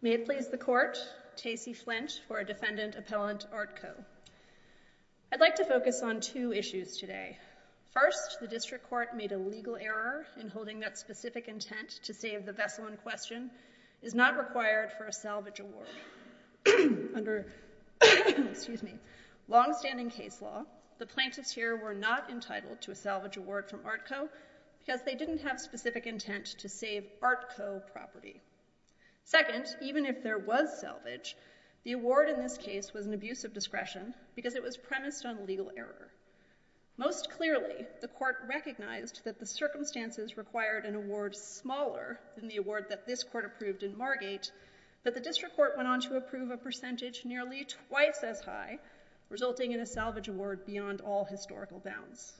May it please the Court, Tacey Flint, for a Defendant Appellant Artko. I'd like to focus on two issues today. First, the District Court made a legal error in holding that specific intent to save the vessel in question is not required for a salvage award. Under long-standing case law, the plaintiffs here were not entitled to a salvage award from Artko because they didn't have specific intent to save Artko property. Second, even if there was salvage, the award in this case was an abuse of discretion because it was premised on legal error. Most clearly, the Court recognized that the circumstances required an award smaller than the award that this Court approved in Margate, but the District Court went on to approve a percentage nearly twice as high, resulting in a salvage award beyond all historical bounds.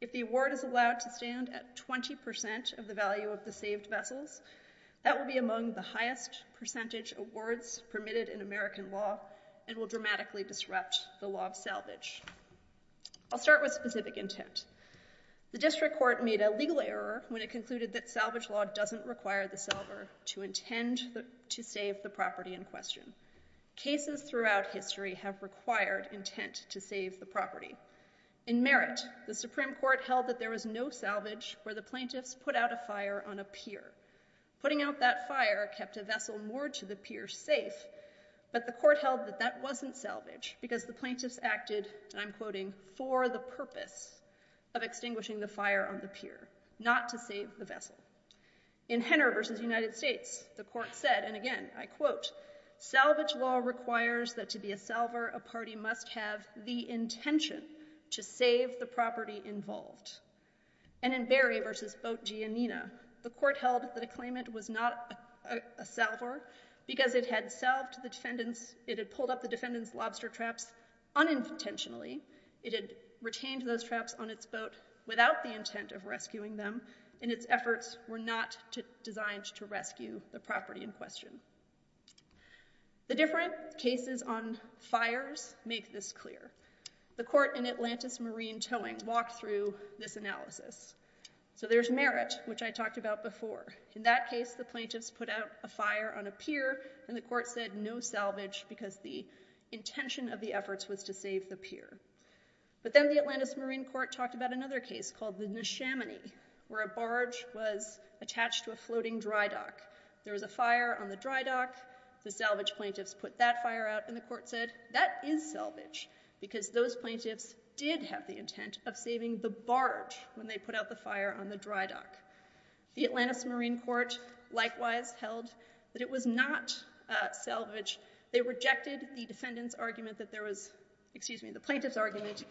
If the award is allowed to stand at 20% of the value of the saved vessels, that will be among the highest percentage awards permitted in American law and will dramatically disrupt the law of salvage. I'll start with specific intent. The District Court made a legal error when it concluded that salvage law doesn't require the salver to intend to save the property in question. Cases throughout history have required intent to save the property. In Merritt, the Supreme Court held that there was no salvage where the plaintiffs put out a fire on a pier. Putting out that fire kept a vessel moored to the pier safe, but the Court held that that wasn't salvage because the plaintiffs acted, and I'm quoting, for the purpose of extinguishing the fire on the pier, not to save the vessel. In Henner v. United States, the Court said, and again, I quote, salvage law requires that to be a salver, a party must have the intention to save the property involved. And in Berry v. Boat, G. and Nina, the Court held that a claimant was not a salver because it had pulled up the defendant's lobster traps unintentionally. It had retained those traps on its boat without the intent of rescuing them, and its efforts were not designed to rescue the property in question. The different cases on fires make this clear. The Court in Atlantis Marine Towing walked through this analysis. So there's Merritt, which I talked about before. In that case, the plaintiffs put out a fire on a pier, and the Court said no salvage because the intention of the efforts was to save the pier. But then the Atlantis Marine Court talked about another case called the Neshaminy, where a barge was attached to a floating dry dock. There was a fire on the dry dock. The salvage plaintiffs put that fire out, and the Court said that is salvage because those plaintiffs did have the intent of saving the barge when they put out the fire on the dry dock. The Atlantis Marine Court likewise held that it was not salvage. They rejected the defendant's argument that there was, excuse me, the plaintiff's argument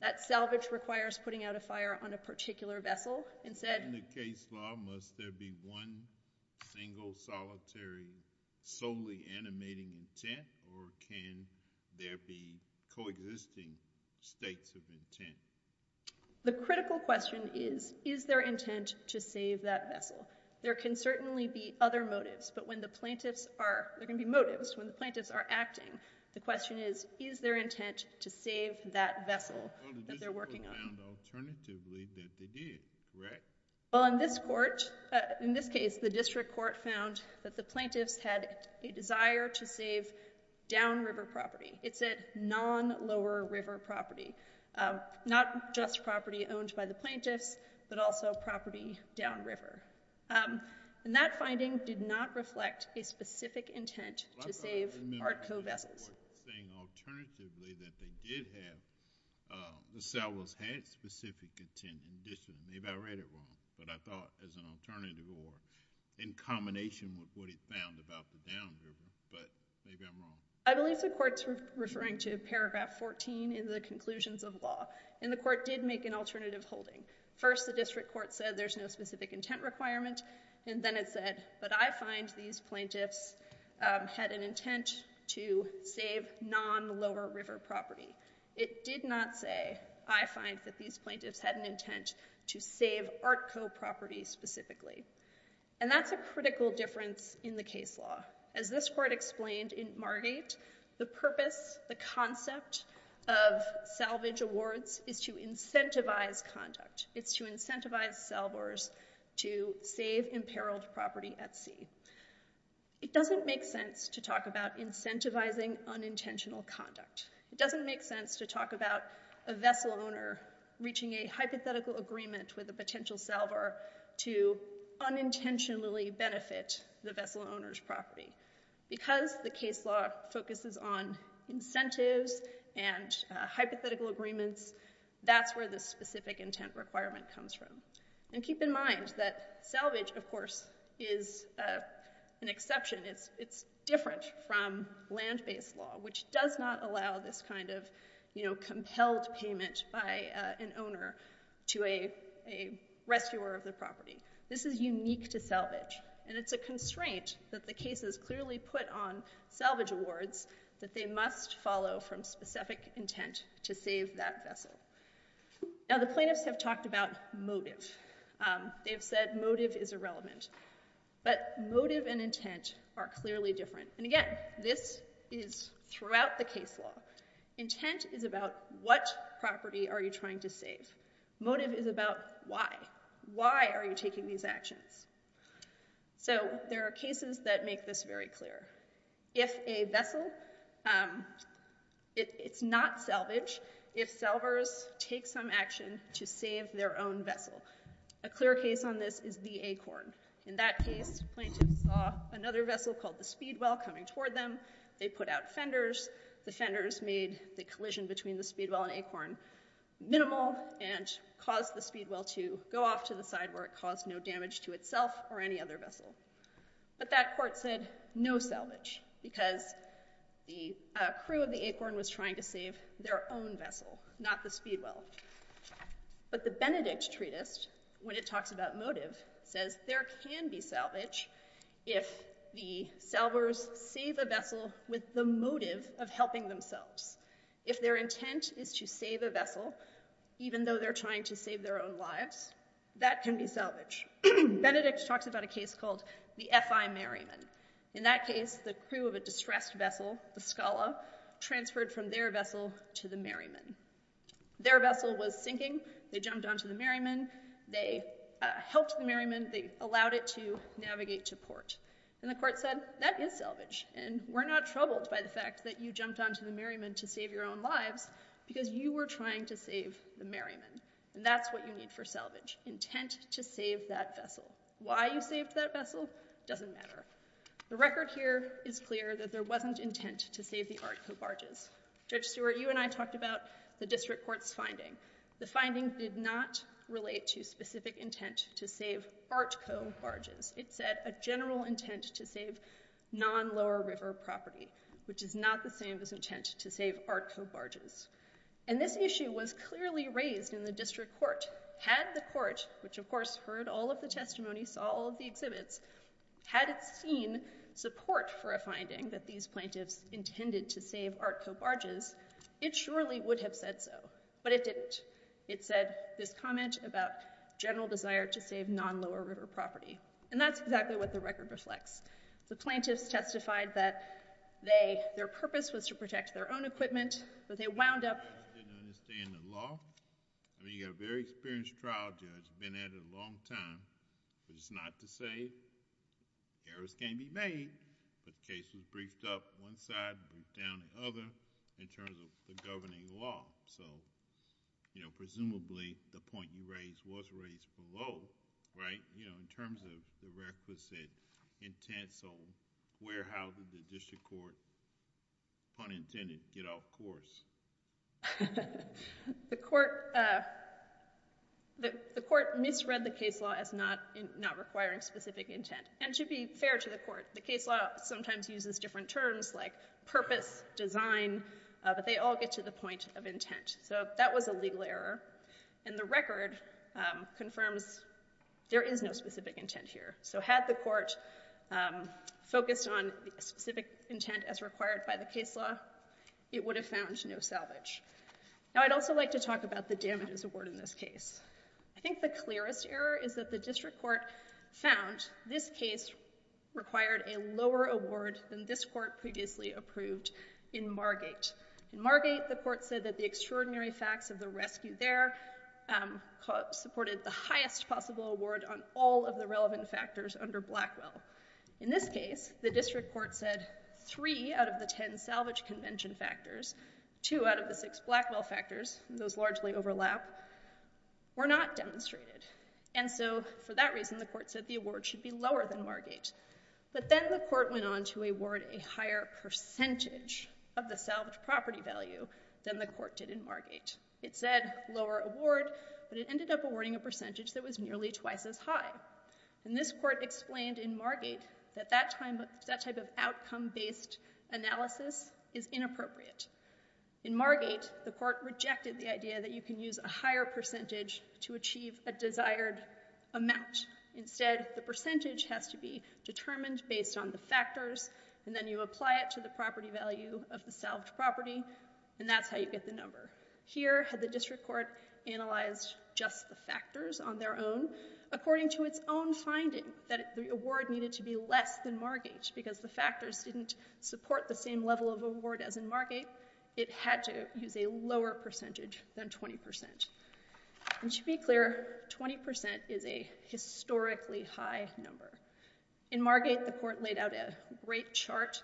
that salvage requires putting out a fire on a particular vessel, and said- Is there a single, solitary, solely animating intent, or can there be coexisting states of intent? The critical question is, is there intent to save that vessel? There can certainly be other motives, but when the plaintiffs are- there can be motives when the plaintiffs are acting. The question is, is there intent to save that vessel that they're working on? Well, the district court found alternatively that they did, correct? Well, in this court, in this case, the district court found that the plaintiffs had a desire to save downriver property. It said non-lower river property. Not just property owned by the plaintiffs, but also property downriver. That finding did not reflect a specific intent to save ARTCO vessels. I remember the district court saying alternatively that they did have- the salvage had specific intent, and maybe I read it wrong, but I thought as an alternative, or in combination with what it found about the downriver, but maybe I'm wrong. I believe the court's referring to paragraph 14 in the conclusions of law, and the court did make an alternative holding. First, the district court said there's no specific intent requirement, and then it said, but I find these plaintiffs had an intent to save non-lower river property. It did not say, I find that these plaintiffs had an intent to save ARTCO property specifically. And that's a critical difference in the case law. As this court explained in Margate, the purpose, the concept of salvage awards is to incentivize conduct. It's to incentivize salvers to save imperiled property at sea. It doesn't make sense to talk about incentivizing unintentional conduct. It doesn't make sense to talk about a vessel owner reaching a hypothetical agreement with a potential salver to unintentionally benefit the vessel owner's property. Because the case law focuses on incentives and hypothetical agreements, that's where the specific intent requirement comes from. And keep in mind that salvage, of course, is an exception. It's different from land-based law, which does not allow this kind of compelled payment by an owner to a rescuer of the property. This is unique to salvage, and it's a constraint that the case has clearly put on salvage awards that they must follow from specific intent to save that vessel. Now, the plaintiffs have talked about motive. They've said motive is irrelevant. But motive and intent are clearly different. And again, this is throughout the case law. Intent is about what property are you trying to save. Motive is about why. Why are you taking these actions? So there are cases that make this very clear. If a vessel, it's not salvage if salvers take some action to save their own vessel. A clear case on this is the acorn. In that case, plaintiffs saw another vessel called the speedwell coming toward them. They put out fenders. The fenders made the collision between the speedwell and acorn minimal and caused the speedwell to go off to the side where it caused no damage to itself or any other vessel. But that court said no salvage because the crew of the acorn was trying to save their own vessel, not the speedwell. But the Benedict treatise, when it talks about motive, says there can be salvage if the salvers save a vessel with the motive of helping themselves. If their intent is to save a vessel, even though they're trying to save their own lives, that can be salvage. Benedict talks about a case called the F.I. Merriman. In that case, the crew of a distressed vessel, the scala, transferred from their vessel to the merriman. Their vessel was sinking. They jumped onto the merriman. They helped the merriman. They allowed it to navigate to port. And the court said, that is salvage. And we're not troubled by the fact that you jumped onto the merriman to save your own lives because you were trying to save the merriman. And that's what you need for salvage, intent to save that vessel. Why you saved that vessel doesn't matter. The record here is clear that there wasn't intent to save the art cobarges. Judge Stewart, you and I talked about the district court's finding. The finding did not relate to specific intent to save art cobarges. It said a general intent to save non-Lower River property, which is not the same as intent to save art cobarges. And this issue was clearly raised in the district court. Had the court, which of course heard all of the testimony, saw all of the exhibits, had seen support for a finding that these plaintiffs intended to save art cobarges, it surely would have said so. But it didn't. It said this comment about general desire to save non-Lower River property. And that's exactly what the record reflects. The plaintiffs testified that their purpose was to protect their own equipment. But they wound up— —didn't understand the law. I mean, you've got a very experienced trial judge who's been at it a long time. It's not to say errors can't be made. The case was briefed up on one side, briefed down on the other, in terms of the governing law. So, presumably, the point you raised was raised below, right? In terms of the requisite intent, so where, how did the district court, pun intended, get off course? —The court misread the case law as not requiring specific intent. And to be fair to the court, the case law sometimes uses different terms like purpose, design, but they all get to the point of intent. So that was a legal error. And the record confirms there is no specific intent here. So had the court focused on specific intent as required by the case law, it would have found no salvage. Now, I'd also like to talk about the damages award in this case. I think the clearest error is that the district court found this case required a lower award than this court previously approved in Margate. In Margate, the court said that the extraordinary facts of the rescue there supported the highest possible award on all of the relevant factors under Blackwell. In this case, the district court said three out of the ten salvage convention factors, two out of the six Blackwell factors, those largely overlap, were not demonstrated. And so for that reason, the court said the award should be lower than Margate. But then the court went on to award a higher percentage of the salvage property value than the court did in Margate. It said lower award, but it ended up awarding a percentage that was nearly twice as high. And this court explained in Margate that that type of outcome-based analysis is inappropriate. In Margate, the court rejected the idea that you can use a higher percentage to achieve a desired amount. Instead, the percentage has to be determined based on the factors, and then you apply it to the property value of the salvage property, and that's how you get the number. Here, had the district court analyzed just the factors on their own? According to its own finding that the award needed to be less than Margate because the factors didn't support the same level of award as in Margate, it had to use a lower percentage than 20%. And to be clear, 20% is a historically high number. In Margate, the court laid out a great chart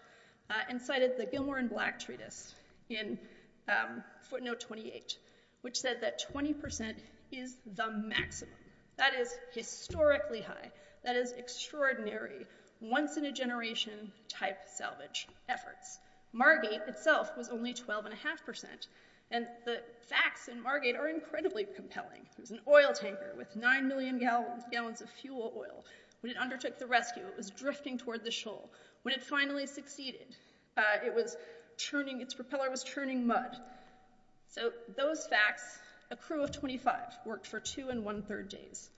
and cited the Gilmore and Black treatise in footnote 28, which said that 20% is the maximum. That is historically high. That is extraordinary, once-in-a-generation type salvage efforts. Margate itself was only 12.5%, and the facts in Margate are incredibly compelling. There's an oil tanker with 9 million gallons of fuel oil. When it undertook the rescue, it was drifting toward the shoal. When it finally succeeded, its propeller was churning mud. So those facts, a crew of 25 worked for two and one-third days.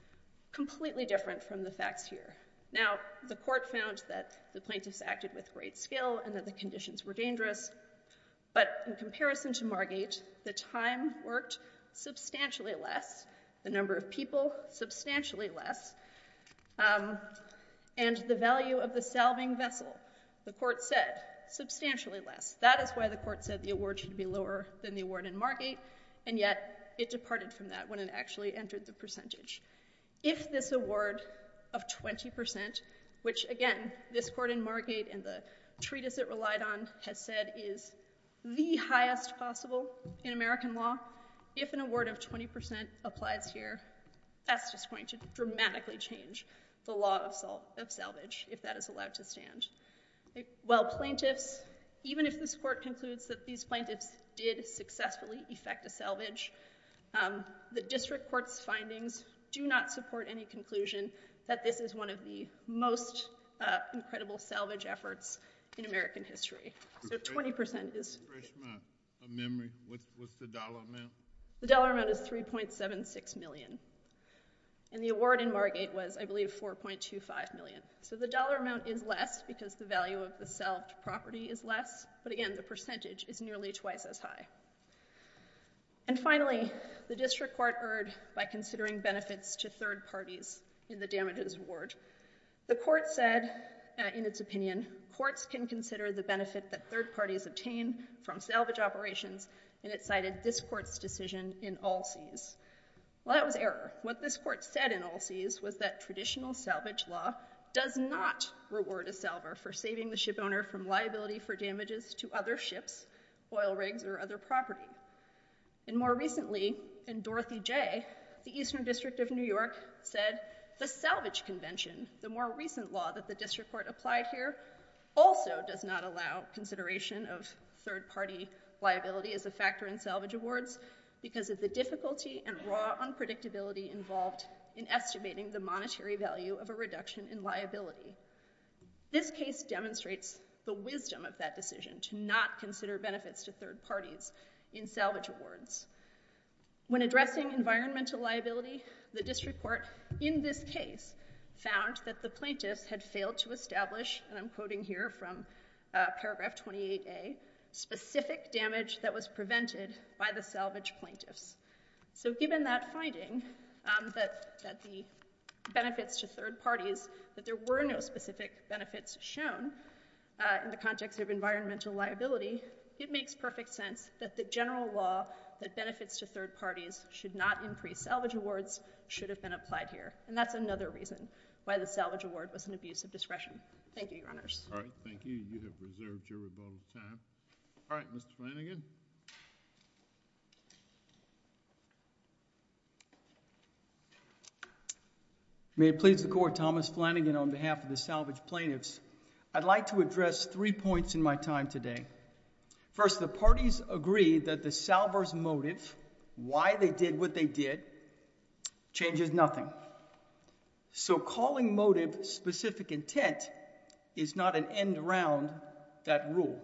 Completely different from the facts here. Now, the court found that the plaintiffs acted with great skill and that the conditions were dangerous, but in comparison to Margate, the time worked substantially less, the number of people substantially less, and the value of the salving vessel, the court said, substantially less. That is why the court said the award should be lower than the award in Margate, and yet it departed from that when it actually entered the percentage. If this award of 20%, which again, this court in Margate and the treatise it relied on has said is the highest possible in American law, if an award of 20% applies here, that's just going to dramatically change the law of salvage, if that is allowed to stand. While plaintiffs, even if this court concludes that these plaintiffs did successfully effect a salvage, the district court's findings do not support any conclusion that this is one of the most incredible salvage efforts in American history. So 20% is— —of memory, what's the dollar amount? The dollar amount is $3.76 million, and the award in Margate was, I believe, $4.25 million. So the dollar amount is less because the value of the salved property is less, but again, the percentage is nearly twice as high. And finally, the district court erred by considering benefits to third parties in the damages award. The court said, in its opinion, courts can consider the benefit that third parties obtain from salvage operations, and it cited this court's decision in All Seas. Well, that was error. What this court said in All Seas was that traditional salvage law does not reward a salver for saving the shipowner from liability for damages to other ships, oil rigs, or other property. And more recently, in Dorothy Jay, the Eastern District of New York said the salvage convention, the more recent law that the district court applied here, also does not allow consideration of third-party liability as a factor in salvage awards because of the difficulty and raw unpredictability involved in estimating the monetary value of a reduction in liability. This case demonstrates the wisdom of that decision to not consider benefits to third parties in salvage awards. When addressing environmental liability, the district court, in this case, found that the plaintiffs had failed to establish, and I'm quoting here from paragraph 28a, specific damage that was prevented by the salvage plaintiffs. So given that finding, that the benefits to third parties, that there were no specific benefits shown in the context of environmental liability, it makes perfect sense that the general law that benefits to third parties should not increase salvage awards should have been applied here. And that's another reason why the salvage award was an abuse of discretion. Thank you, Your Honors. All right. Thank you. You have reserved your vote of time. All right. Mr. Flanagan. May it please the court. Thomas Flanagan on behalf of the salvage plaintiffs. I'd like to address three points in my time today. First, the parties agree that the salver's motive, why they did what they did, changes nothing. So calling motive specific intent is not an end around that rule.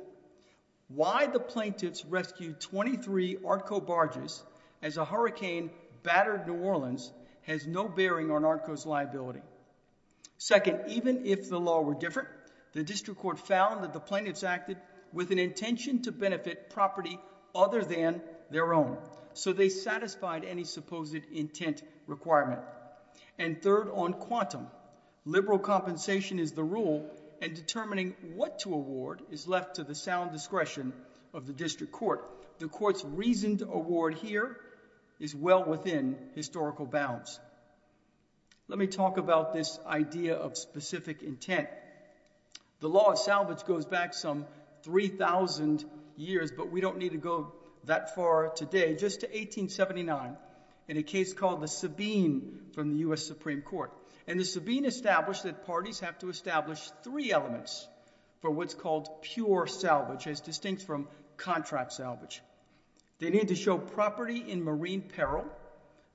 Why the plaintiffs rescued 23 ARTCO barges as a hurricane battered New Orleans has no bearing on ARTCO's liability. Second, even if the law were different, the district court found that the plaintiffs acted with an intention to benefit property other than their own. So they satisfied any supposed intent requirement. And third, on quantum, liberal compensation is the rule, and determining what to award is left to the sound discretion of the district court. The court's reasoned award here is well within historical bounds. Let me talk about this idea of specific intent. The law of salvage goes back some 3,000 years, but we don't need to go that far today. Just to 1879 in a case called the Sabine from the U.S. Supreme Court. And the Sabine established that parties have to establish three elements for what's called pure salvage as distinct from contract salvage. They need to show property in marine peril.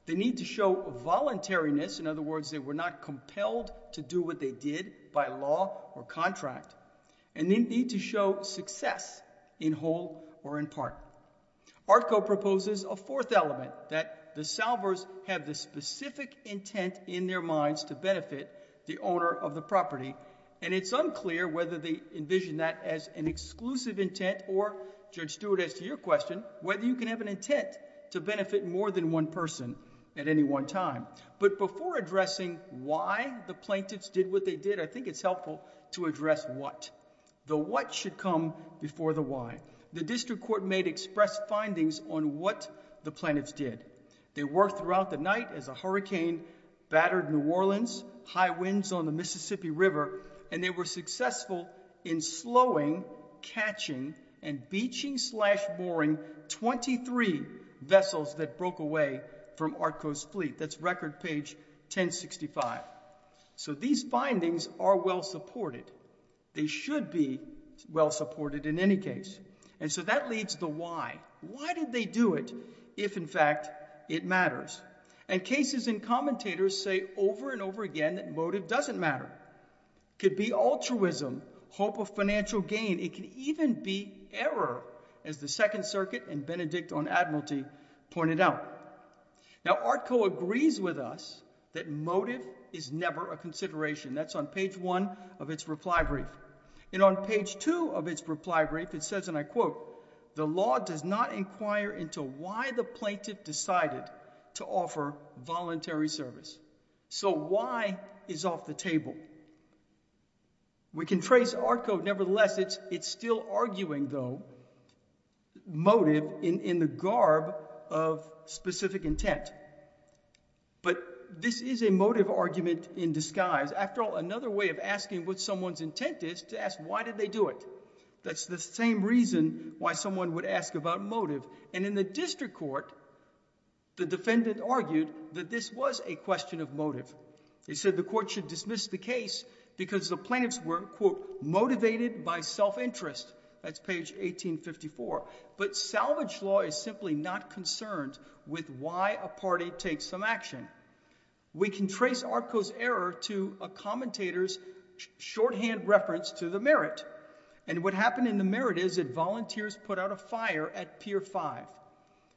They need to show voluntariness. In other words, they were not compelled to do what they did by law or contract. And they need to show success in whole or in part. ARCO proposes a fourth element, that the salvers have the specific intent in their minds to benefit the owner of the property. And it's unclear whether they envision that as an exclusive intent or, Judge Stewart, as to your question, whether you can have an intent to benefit more than one person at any one time. But before addressing why the plaintiffs did what they did, I think it's helpful to address what. The what should come before the why. The district court made express findings on what the plaintiffs did. They worked throughout the night as a hurricane battered New Orleans, high winds on the Mississippi River, and they were successful in slowing, catching and beaching slash mooring 23 vessels that broke away from ARCO's fleet. That's record page 1065. So these findings are well supported. They should be well supported in any case. So that leads to the why. Why did they do it if, in fact, it matters? And cases and commentators say over and over again that motive doesn't matter. It could be altruism, hope of financial gain. It could even be error, as the Second Circuit and Benedict on Admiralty pointed out. Now ARCO agrees with us that motive is never a consideration. That's on page one of its reply brief. And on page two of its reply brief, it says, and I quote, the law does not inquire into why the plaintiff decided to offer voluntary service. So why is off the table? We can trace ARCO. Nevertheless, it's still arguing, though, motive in the garb of specific intent. But this is a motive argument in disguise. After all, another way of asking what someone's intent is to ask, why did they do it? That's the same reason why someone would ask about motive. And in the district court, the defendant argued that this was a question of motive. He said the court should dismiss the case because the plaintiffs were, quote, motivated by self-interest. That's page 1854. But salvage law is simply not concerned with why a party takes some action. We can trace ARCO's error to a commentator's shorthand reference to the merit. And what happened in the merit is that volunteers put out a fire at Pier 5.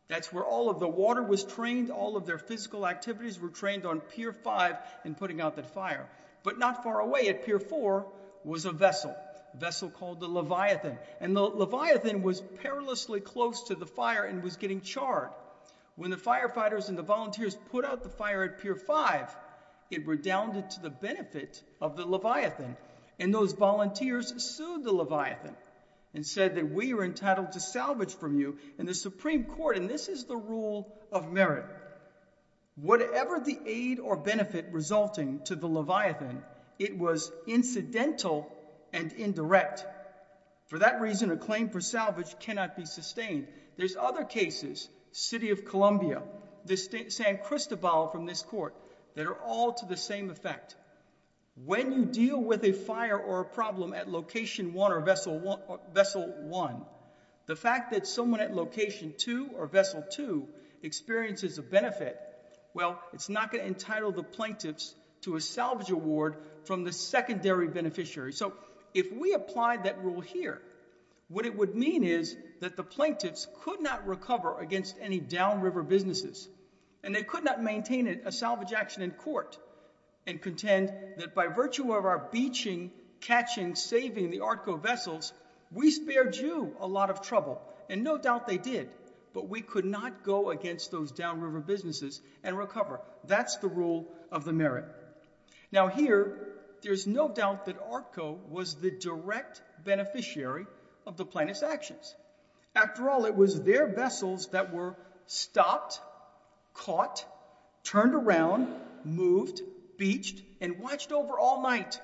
That's where all of the water was trained. All of their physical activities were trained on Pier 5 and putting out that fire. But not far away at Pier 4 was a vessel, a vessel called the Leviathan. And the Leviathan was perilously close to the fire and was getting charred. When the firefighters and the volunteers put out the fire at Pier 5, it redounded to the benefit of the Leviathan. And those volunteers sued the Leviathan and said that we were entitled to salvage from you in the Supreme Court. And this is the rule of merit. Whatever the aid or benefit resulting to the Leviathan, it was incidental and indirect. For that reason, a claim for salvage cannot be sustained. There's other cases, City of Columbia, the San Cristobal from this court, that are all to the same effect. When you deal with a fire or a problem at Location 1 or Vessel 1, the fact that someone at Location 2 or Vessel 2 experiences a benefit, well, it's not going to entitle the plaintiffs to a salvage award from the secondary beneficiary. If we apply that rule here, what it would mean is that the plaintiffs could not recover against any downriver businesses. And they could not maintain a salvage action in court and contend that by virtue of our beaching, catching, saving the ARCO vessels, we spared you a lot of trouble. And no doubt they did. But we could not go against those downriver businesses and recover. That's the rule of the merit. Now here, there's no doubt that ARCO was the direct beneficiary of the plaintiffs' actions. After all, it was their vessels that were stopped, caught, turned around, moved, beached, and watched over all night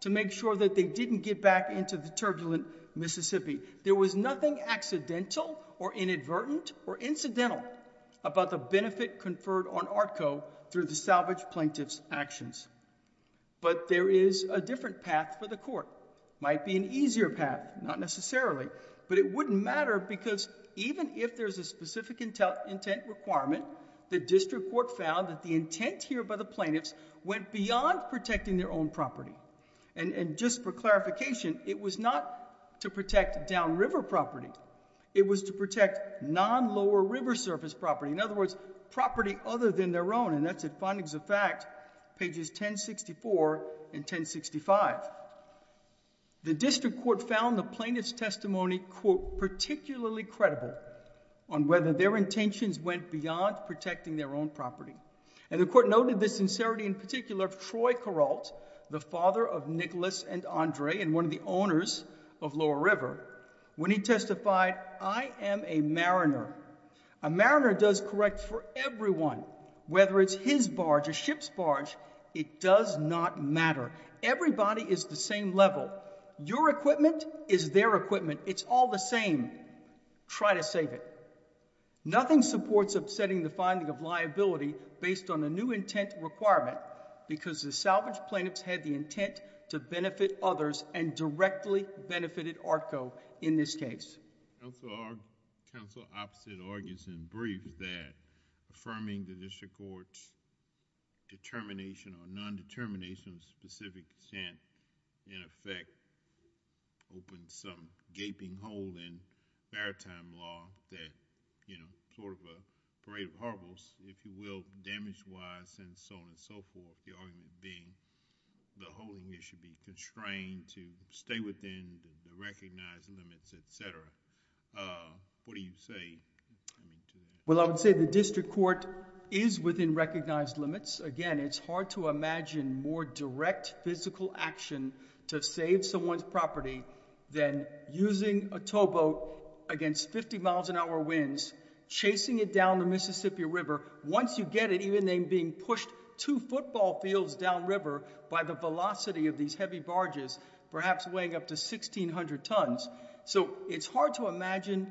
to make sure that they didn't get back into the turbulent Mississippi. There was nothing accidental or inadvertent or incidental about the benefit conferred on ARCO through the salvage plaintiffs' actions. But there is a different path for the court. Might be an easier path, not necessarily. But it wouldn't matter because even if there's a specific intent requirement, the district court found that the intent here by the plaintiffs went beyond protecting their own property. And just for clarification, it was not to protect downriver property. It was to protect non-lower river surface property. In other words, property other than their own. And that's at Findings of Fact, pages 1064 and 1065. The district court found the plaintiffs' testimony, quote, particularly credible on whether their intentions went beyond protecting their own property. And the court noted this sincerity in particular of Troy Corralt, the father of Nicholas and Andre and one of the owners of Lower River. When he testified, I am a mariner. A mariner does correct for everyone. Whether it's his barge, a ship's barge, it does not matter. Everybody is the same level. Your equipment is their equipment. It's all the same. Try to save it. Nothing supports upsetting the finding of liability based on a new intent requirement because the salvage plaintiffs had the intent to benefit others and directly benefited ARCO in this case. Our counsel opposite argues in brief that affirming the district court's determination or nondetermination of specific consent in effect opens some gaping hole in fair time law that you know sort of a parade of horribles if you will damage wise and so on and so forth the argument being the holding it should be restrained to stay within the recognized limits etc what do you say? Well I would say the district court is within recognized limits again it's hard to imagine more direct physical action to save someone's property than using a towboat against 50 miles an hour winds chasing it down the Mississippi River once you get it even then being pushed to football fields downriver by the velocity of these heavy barges perhaps weighing up to 1,600 tons so it's hard to imagine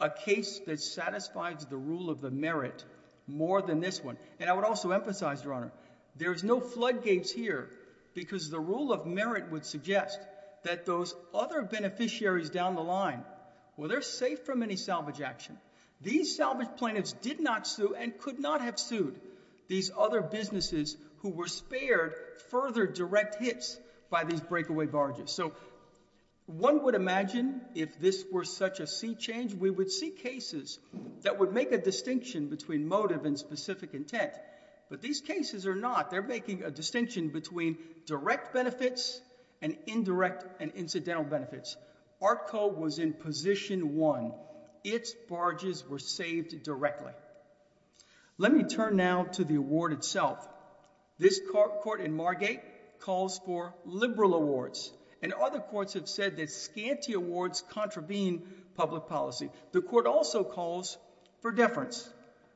a case that satisfies the rule of the merit more than this one and I would also emphasize your honor there's no floodgates here because the rule of merit would suggest that those other beneficiaries down the line well they're safe from any salvage action these salvage plaintiffs did not sue and could not have sued these other businesses who were spared further direct hits by these breakaway barges so one would imagine if this were such a sea change we would see cases that would make a distinction between motive and specific intent but these cases are not they're making a distinction between direct benefits and indirect and incidental benefits ARCO was in position one its barges were saved directly let me turn now to the award itself this court in Margate calls for liberal awards and other courts have said that scanty awards contravene public policy the court also calls for deference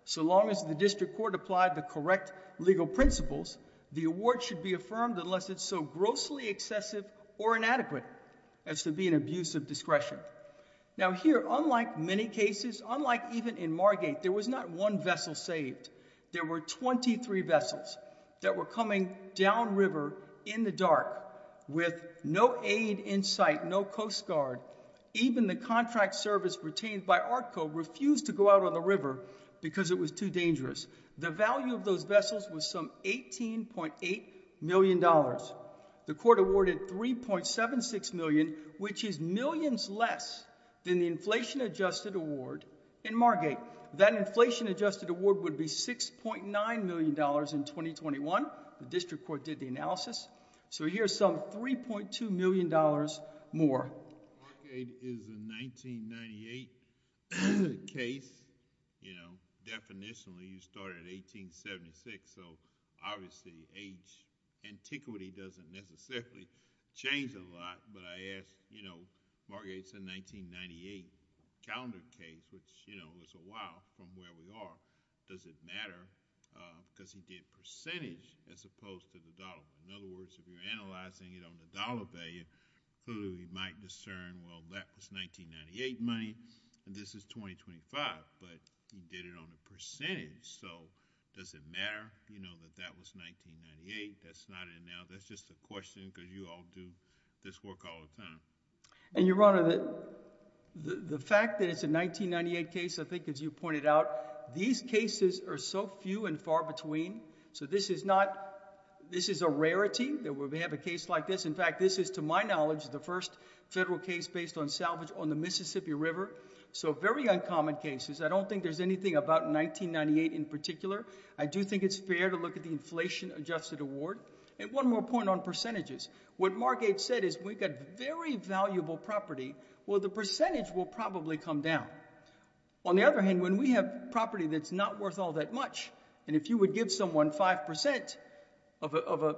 so long as the district court applied the correct legal principles the award should be affirmed unless it's so grossly excessive or inadequate as to be an abuse of discretion now here unlike many cases unlike even in Margate there was not one vessel saved there were 23 vessels that were coming downriver in the dark with no aid in sight no Coast Guard even the contract service retained by ARCO refused to go out on the river because it was too dangerous the value of those vessels was some 18.8 million dollars the court awarded 3.76 million which is millions less than the inflation adjusted award in Margate that inflation adjusted award would be 6.9 million dollars in 2021 the district court did the analysis so here's some 3.2 million dollars more case you know definitionally you started 1876 so obviously age antiquity doesn't necessarily change a lot but I asked you know Margate's a 1998 calendar case which you know was a while from where we are does it matter because you get percentage as opposed to the dollar in other words if you're analyzing it on the dollar value who you might discern well that was 1998 money and this is 2025 but you did it on the percentage so does it matter you know that that was 1998 that's not it now that's just a question because you all do this work all the time and your honor that the the fact that it's a 1998 case I think as you pointed out these cases are so few and far between so this is not this is a rarity that we have a case like this in fact this is to my knowledge the first federal case based on salvage on the Mississippi River so very uncommon cases I don't think there's anything about 1998 in particular I do think it's fair to look at the inflation adjusted award and one more point on percentages what Margate said is we've got very valuable property well the percentage will probably come down on the other hand when we have property that's not worth all that much and if you would give someone 5% of a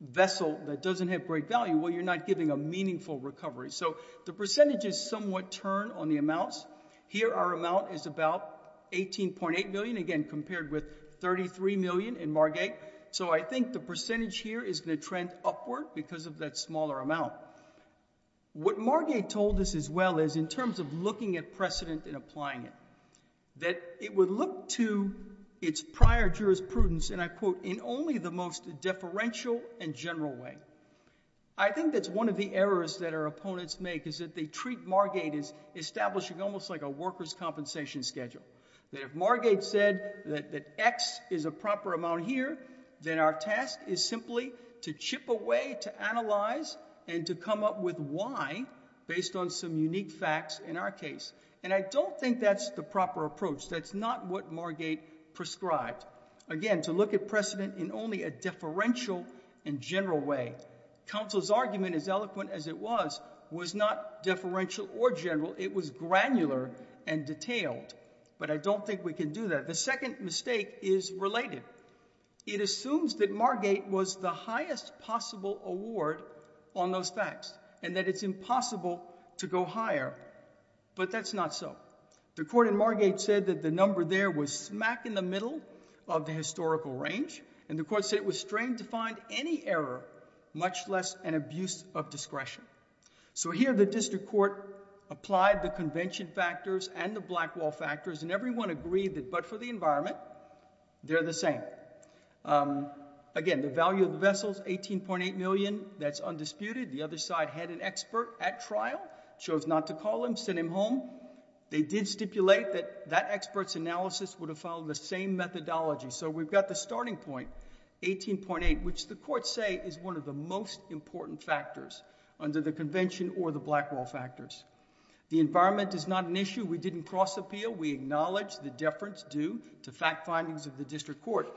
vessel that doesn't have great value well you're not giving a meaningful recovery so the percentage is somewhat turn on the amounts here our amount is about 18.8 million again compared with 33 million in Margate so I think the percentage here is the trend upward because of that smaller amount what Margate told us as well as in terms of looking at precedent and applying it that it would look to its prior jurisprudence and I quote in only the most differential and general way I think that's one of the errors that our opponents make is that they treat Margate is establishing almost like a workers compensation schedule that if that X is a proper amount here then our task is simply to chip away to analyze and to come up with why based on some unique facts in our case and I don't think that's the proper approach that's not what Margate prescribed again to look at precedent in only a differential in general way council's argument is eloquent as it was was not differential or general it was granular and detailed but I don't think we can do that the second mistake is related it assumes that Margate was the highest possible award on those facts and that it's impossible to go higher but that's not so the court in Margate said that the number there was smack in the middle of the historical range and the court said it was strained to find any error much less an abuse of discretion so here the district court applied the convention factors and the black wall factors and everyone agreed that but for the environment they're the same again the value of the vessels eighteen point eight million that's undisputed the other side had an expert at trial chose not to call him send him home they did stipulate that that experts analysis would have followed the same methodology so we've got the starting point eighteen point eight which the court say is one of the most important factors under the convention or the black wall factors the environment is not an issue we didn't cross appeal we acknowledge the deference due to fact findings of the district court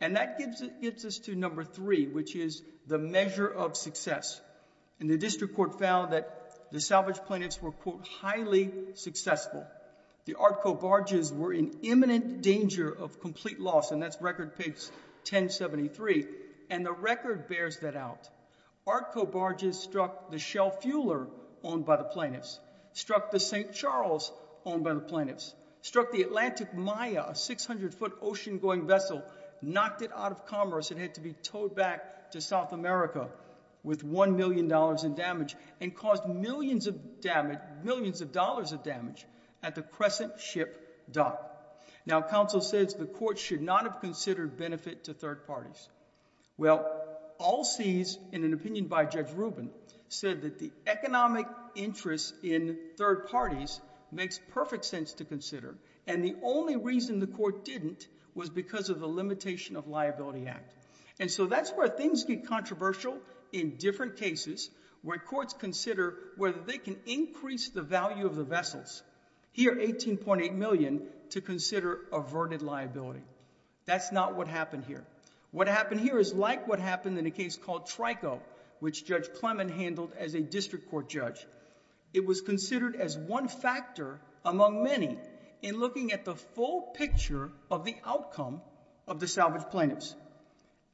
and that gives it gives us to number three which is the measure of success and the district court found that the salvage plaintiffs were quote highly successful the Artco barges were in imminent danger of complete loss and that's record peaks 1073 and the record bears that out Artco barges struck the shell fueler owned by the plaintiffs struck the St. Charles owned by the plaintiffs struck the Atlantic Maya a 600-foot ocean going vessel knocked it out of commerce and had to be towed back to South America with one million dollars in damage and caused millions of damage millions of dollars of damage at the Crescent ship dock now counsel says the court should not have considered benefit to third parties well all sees in an opinion by judge Rubin said that the economic interest in third parties makes perfect sense to consider and the only reason the court didn't was because of the limitation of liability act and so that's where things get controversial in different cases where courts consider whether they can increase the value of vessels here 18.8 million to consider averted liability that's not what happened here what happened here is like what happened in a case called Trico which judge Clement handled as a district court judge it was considered as one factor among many in looking at the full picture of the outcome of the salvage plaintiffs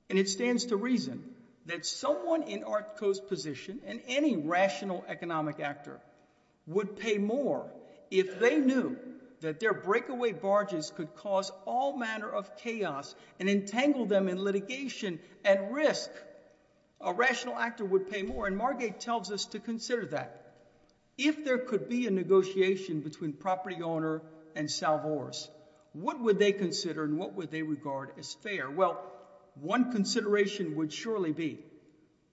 and it stands to reason that someone in Artco's position and any rational economic actor would pay more if they knew that their breakaway barges could cause all manner of chaos and entangle them in litigation and risk a rational actor would pay more and Margate tells us to consider that if there could be a negotiation between property owner and salvage what would they consider and what would they regard as fair well one consideration would surely be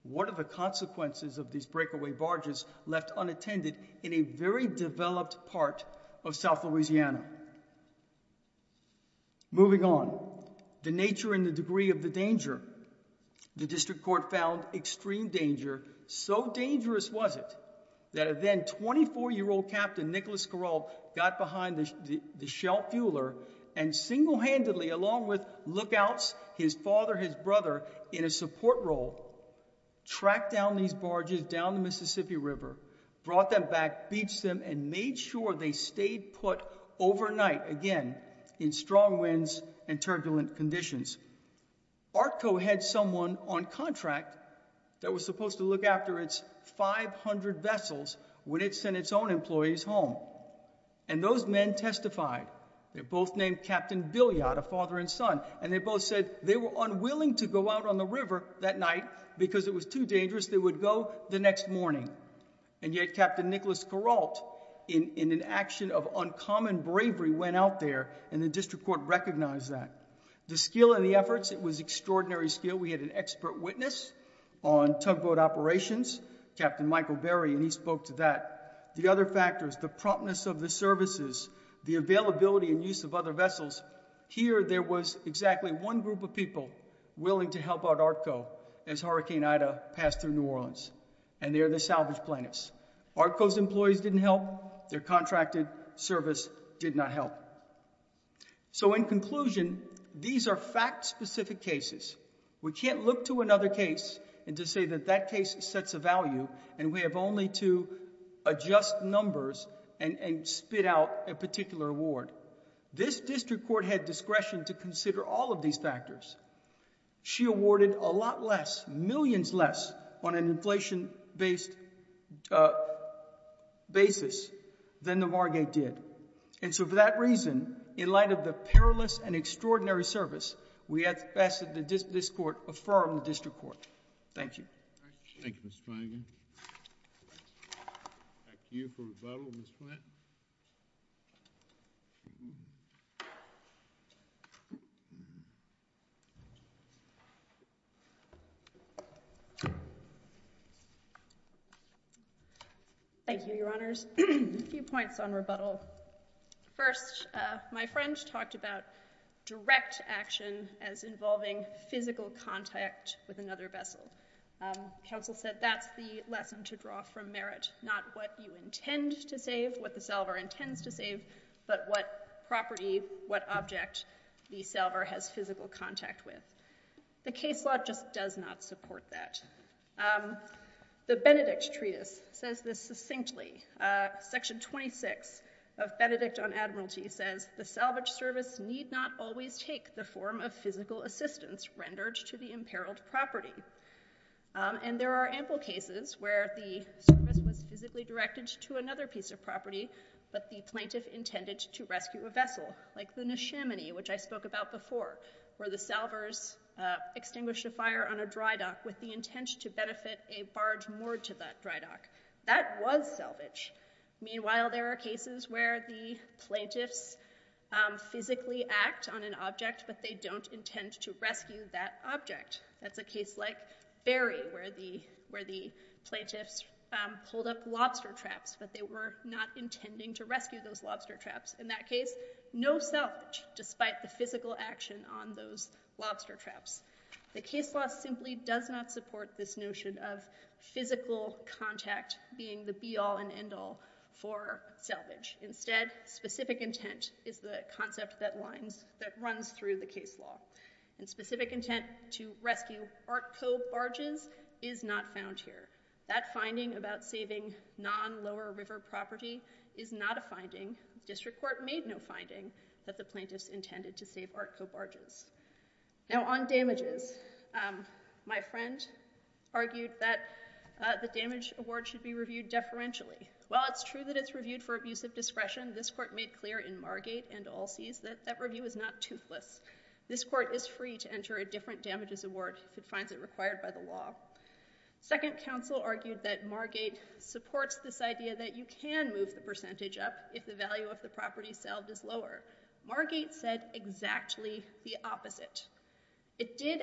what are the consequences of these breakaway barges left unattended in a very developed part of South Louisiana moving on the nature and the degree of the danger the district court found extreme danger so dangerous was it that event 24 year old captain Nicholas Corral got behind the the shell fueler and single-handedly along with lookouts his father his brother in a support role track down these barges down the Mississippi River brought them back beached them and made sure they stayed put overnight again in strong winds and turbulent conditions Artco had someone on contract that was supposed to look after its 500 vessels when it sent its own employees home and those men testified they're both named Captain Billy out a father and son and they both said they were unwilling to go out on the river that night because it was too dangerous they would go the next morning and yet Captain Nicholas Corral in in an action of uncommon bravery went out there and the district court recognized that the skill and the efforts it was extraordinary skill we had an expert witness on tugboat operations Captain Michael Berry and he spoke to that the other factors the promptness of the services the availability and use of other vessels here there was exactly one group of people willing to help out Artco as Hurricane Ida passed through New Orleans and they're the salvage planets Artco's employees didn't help their contracted service did not help so in conclusion these are fact-specific cases we can't look to another case and to say that that case sets a value and we have only to adjust numbers and spit out a particular award this district court had discretion to consider all of these factors she awarded a lot less millions less on an inflation based basis than the Vargate did and so for that reason in light of the perilous and extraordinary service we at best this court affirmed the district court thank you thank you thank you your honors a few points on rebuttal first my friends talked about direct action as involving physical contact with another vessel counsel said that's the lesson to draw from merit not what you intend to save what the salver intends to save but what property what object the salver has physical contact with the case law just does not support that the Benedict treatise says this succinctly section 26 of Benedict on Admiralty says the salvage service need not always take the form of physical assistance rendered to the imperiled property and there are ample cases where the was physically directed to another piece of property but the plaintiff intended to rescue a vessel like the Nishimini which I spoke about before where the salvers extinguished a fire on a dry dock with the intent to benefit a barge more to that dry dock that was salvage meanwhile there are cases where the plaintiffs physically act on an object but they don't intend to rescue that object that's a case like Barry where the where the plaintiffs pulled up lobster traps but they were not intending to rescue those lobster traps in that case no self despite the physical action on those lobster traps the case law simply does not support this notion of physical contact being the be-all and end-all for salvage instead specific intent is the concept that lines that runs through the case law and specific intent to rescue art co-barges is not found here that finding about saving non lower river property is not a finding district court made no finding that the plaintiffs intended to save art co-barges now on damages my friend argued that the damage award should be reviewed deferentially well it's true that it's reviewed for abuse of discretion this court made clear in Margate and all sees that that review is not toothless this court is free to enter a different damages award if it finds it required by the law second counsel argued that Margate supports this idea that you can move the percentage up if the value of the property salve is lower Margate said exactly the opposite it did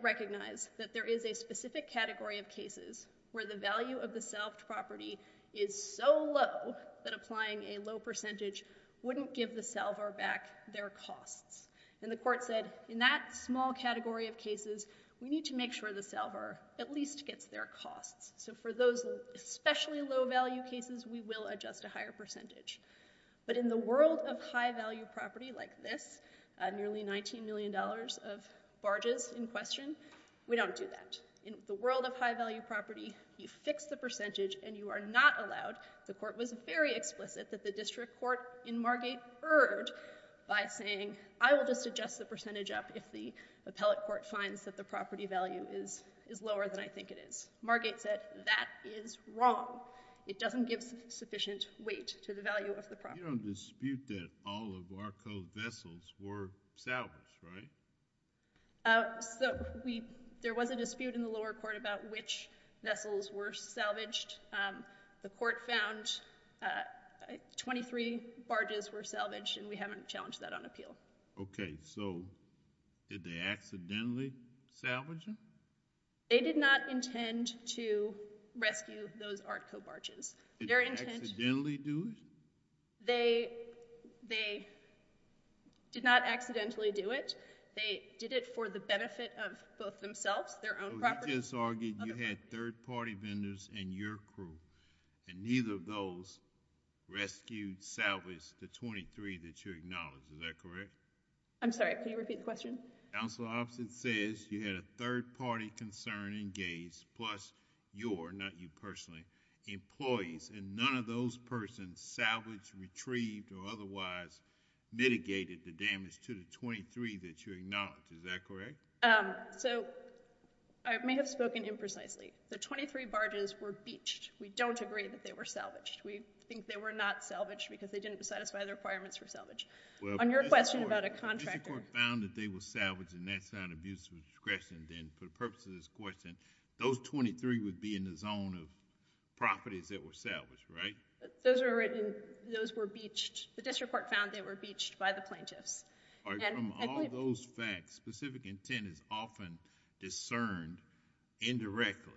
recognize that there is a specific category of cases where the value of the self property is so low that applying a low percentage wouldn't give the salver back their costs and the court said in that small category of cases we need to make sure the salver at least gets their costs so for those especially low value cases we will adjust a higher percentage but in the world of high value property like this nearly 19 million dollars of barges in question we don't do that in the world of high value property you fix the percentage and you are not allowed the court was very explicit that the district court in Margate erred by saying I will just adjust the percentage up if the appellate court finds that the property value is is lower than I think it is Margate said that is wrong it doesn't give sufficient weight to the value of the property You don't dispute that all of ARTCO's vessels were salvaged, right? So we there was a dispute in the lower court about which vessels were salvaged the court found 23 barges were salvaged and we haven't challenged that on appeal okay so did they accidentally salvage them? They did not intend to rescue those ARTCO barges Did they accidentally do it? They they did not accidentally do it they did it for the benefit of both themselves their own property You just argued you had third-party vendors in your crew and neither of those rescued, salvaged the 23 that you acknowledged, is that correct? I'm sorry can you repeat the question? Council officer says you had a third party concern engaged plus your not you salvaged retrieved or otherwise mitigated the damage to the 23 that you acknowledged, is that correct? So I may have spoken imprecisely the 23 barges were beached we don't agree that they were salvaged we think they were not salvaged because they didn't satisfy the requirements for salvage on your question about a contractor Mr. Court found that they were salvaged and that's not abuse of discretion then for the purpose of this question those 23 would be in the zone of properties that were salvaged, right? Those were beached the district court found they were beached by the plaintiffs From all those facts specific intent is often discerned indirectly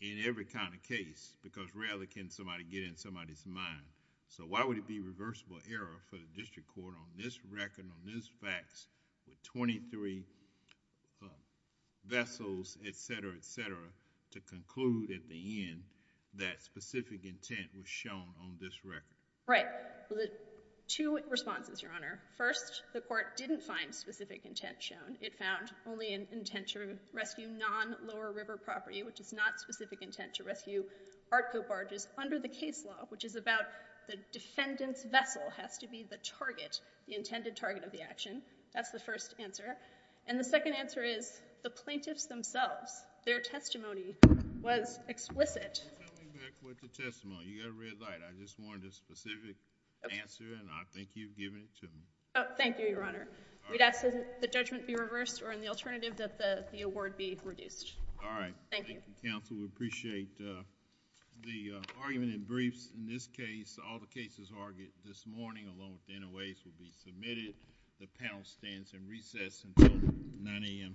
in every kind of case because rarely can somebody get in somebody's mind so why would it be reversible error for the district court on this record on this facts with 23 vessels etc. etc. to conclude at the end that specific intent was shown on this record? Right, two responses your honor, first the court didn't find specific intent shown it found only an intent to rescue non lower river property which is not specific intent to rescue Artco barges under the case law which is about the defendant's vessel has to be the target intended target of the action that's the first answer and the second answer is the plaintiffs themselves their testimony was explicit. You got a red light, I just wanted a specific answer and I think you've given it to me. Thank you your honor, we'd ask that the judgment be reversed or in the alternative that the award be reduced. All right, thank you counsel we appreciate the argument in briefs in this case all the cases argued this morning along with the NOAs will be submitted the panel stands and recess until 9 a.m. tomorrow.